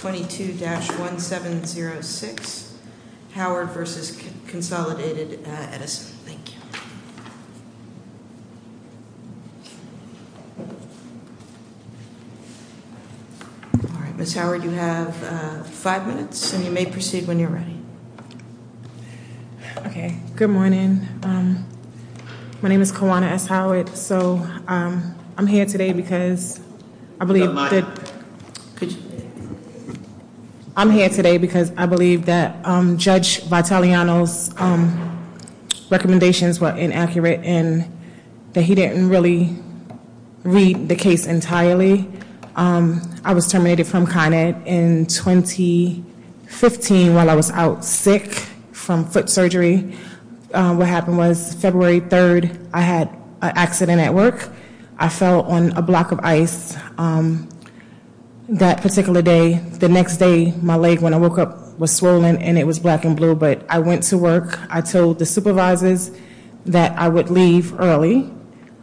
22-1706 Howard v. Consolidated Edison. Thank you. Ms. Howard, you have five minutes and you may proceed when you're ready. Okay. Good morning. My name is Kawana S. Howard. So I'm here today because I believe that, I'm here today because I believe that Judge Vitaliano's recommendations were inaccurate and that he didn't really read the case entirely. I was terminated from Con Ed in 2015 while I was out sick from foot surgery. What happened was February 3rd I had an accident at work. I fell on a block of ice that particular day. The next day my leg when I woke up was swollen and it was black and blue. But I went to work. I told the supervisors that I would leave early.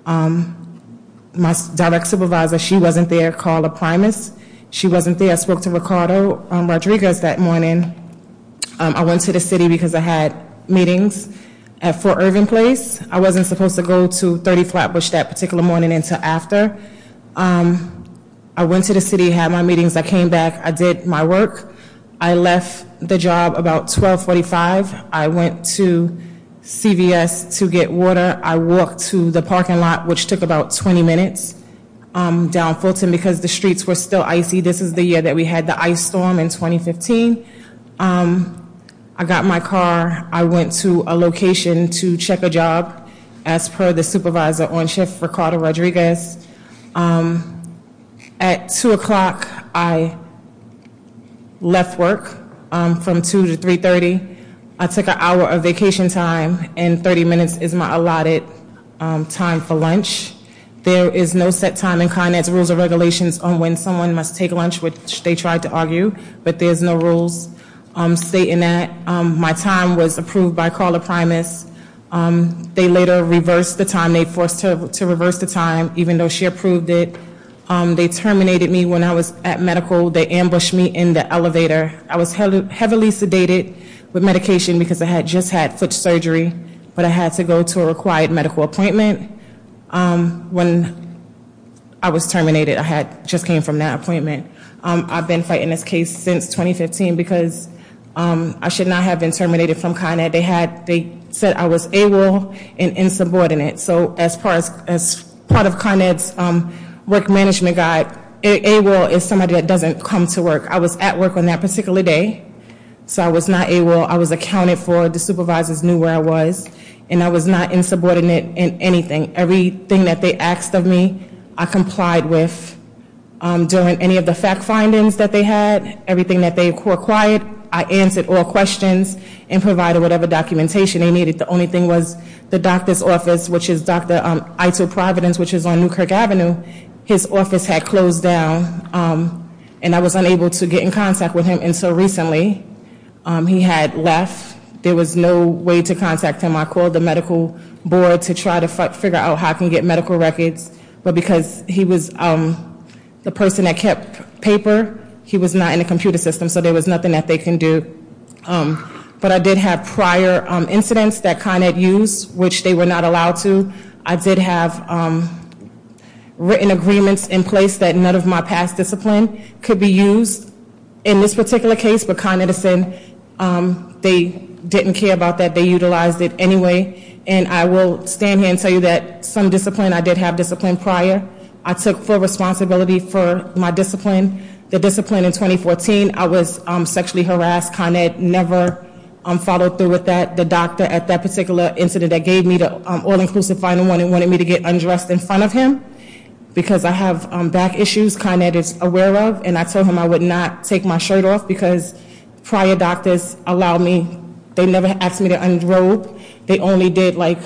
My direct supervisor, she wasn't there, called a primus. She wasn't there. I spoke to Ricardo Rodriguez that morning. I went to the city because I had meetings at Fort Irving Place. I wasn't supposed to go to 30 Flatbush that particular morning until after. I went to the city, had my meetings. I came back. I did my work. I left the job about 1245. I went to CVS to get water. I walked to the parking lot which took about 20 minutes down Fulton because the streets were still icy. This is the year that we had the ice storm in 2015. I got my car. I went to a location to check a job as per the supervisor on shift, Ricardo Rodriguez. At 2 o'clock I left work from 2 to 3.30. I took an hour of vacation time and 30 minutes is my allotted time for lunch. There is no set time in Con Ed's rules and regulations on when someone must take lunch which they tried to argue. But there's no rules stating that. My time was approved by Carla Primus. They later reversed the time. They forced her to reverse the time even though she approved it. They terminated me when I was at medical. They ambushed me in the elevator. I was heavily sedated with medication because I had just had foot surgery. But I had to go to a required medical appointment. When I was terminated I had just came from that appointment. I've been fighting this case since 2015 because I should not have been terminated from Con Ed. They said I was AWOL and insubordinate. So as part of Con Ed's work management guide, AWOL is somebody that doesn't come to work. I was at work on that particular day. So I was not AWOL. I was accounted for. The supervisors knew where I was. And I was not insubordinate in anything. Everything that they asked of me I complied with. During any of the fact findings that they had, everything that they required, I answered all questions and provided whatever documentation they needed. The only thing was the doctor's office which is Dr. Ito Providence which is on Newkirk Avenue. His office had closed down and I was unable to get in contact with him until recently. He had left. There was no way to contact him. I called the medical board to try to figure out how I can get medical records. But because he was the person that kept paper, he was not in the computer system. So there was nothing that they can do. But I did have prior incidents that Con Ed used which they were not allowed to. I did have written agreements in place that none of my past discipline could be used in this particular case. But Con Edison, they didn't care about that. They utilized it anyway. And I will stand here and tell you that some discipline, I did have discipline prior. I took full responsibility for my discipline. The discipline in 2014, I was sexually harassed. Con Ed never followed through with that. The doctor at that particular incident that gave me the all-inclusive final one, he wanted me to get undressed in front of him because I have back issues Con Ed is aware of. And I told him I would not take my shirt off because prior doctors allowed me, they never asked me to unrobe. They only did like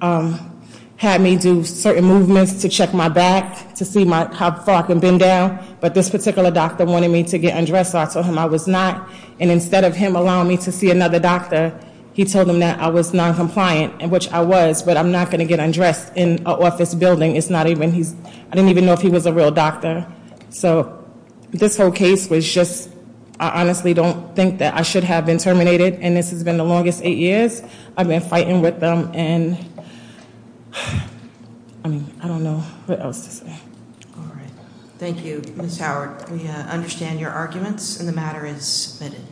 had me do certain movements to check my back to see how far I could bend down. But this particular doctor wanted me to get undressed so I told him I was not. And instead of him allowing me to see another doctor, he told him that I was noncompliant, which I was, but I'm not going to get undressed in an office building. It's not even, I didn't even know if he was a real doctor. So this whole case was just, I honestly don't think that I should have been terminated. And this has been the longest eight years. I've been fighting with them and I mean, I don't know what else to say. All right. Thank you, Ms. Howard. We understand your arguments and the matter is submitted.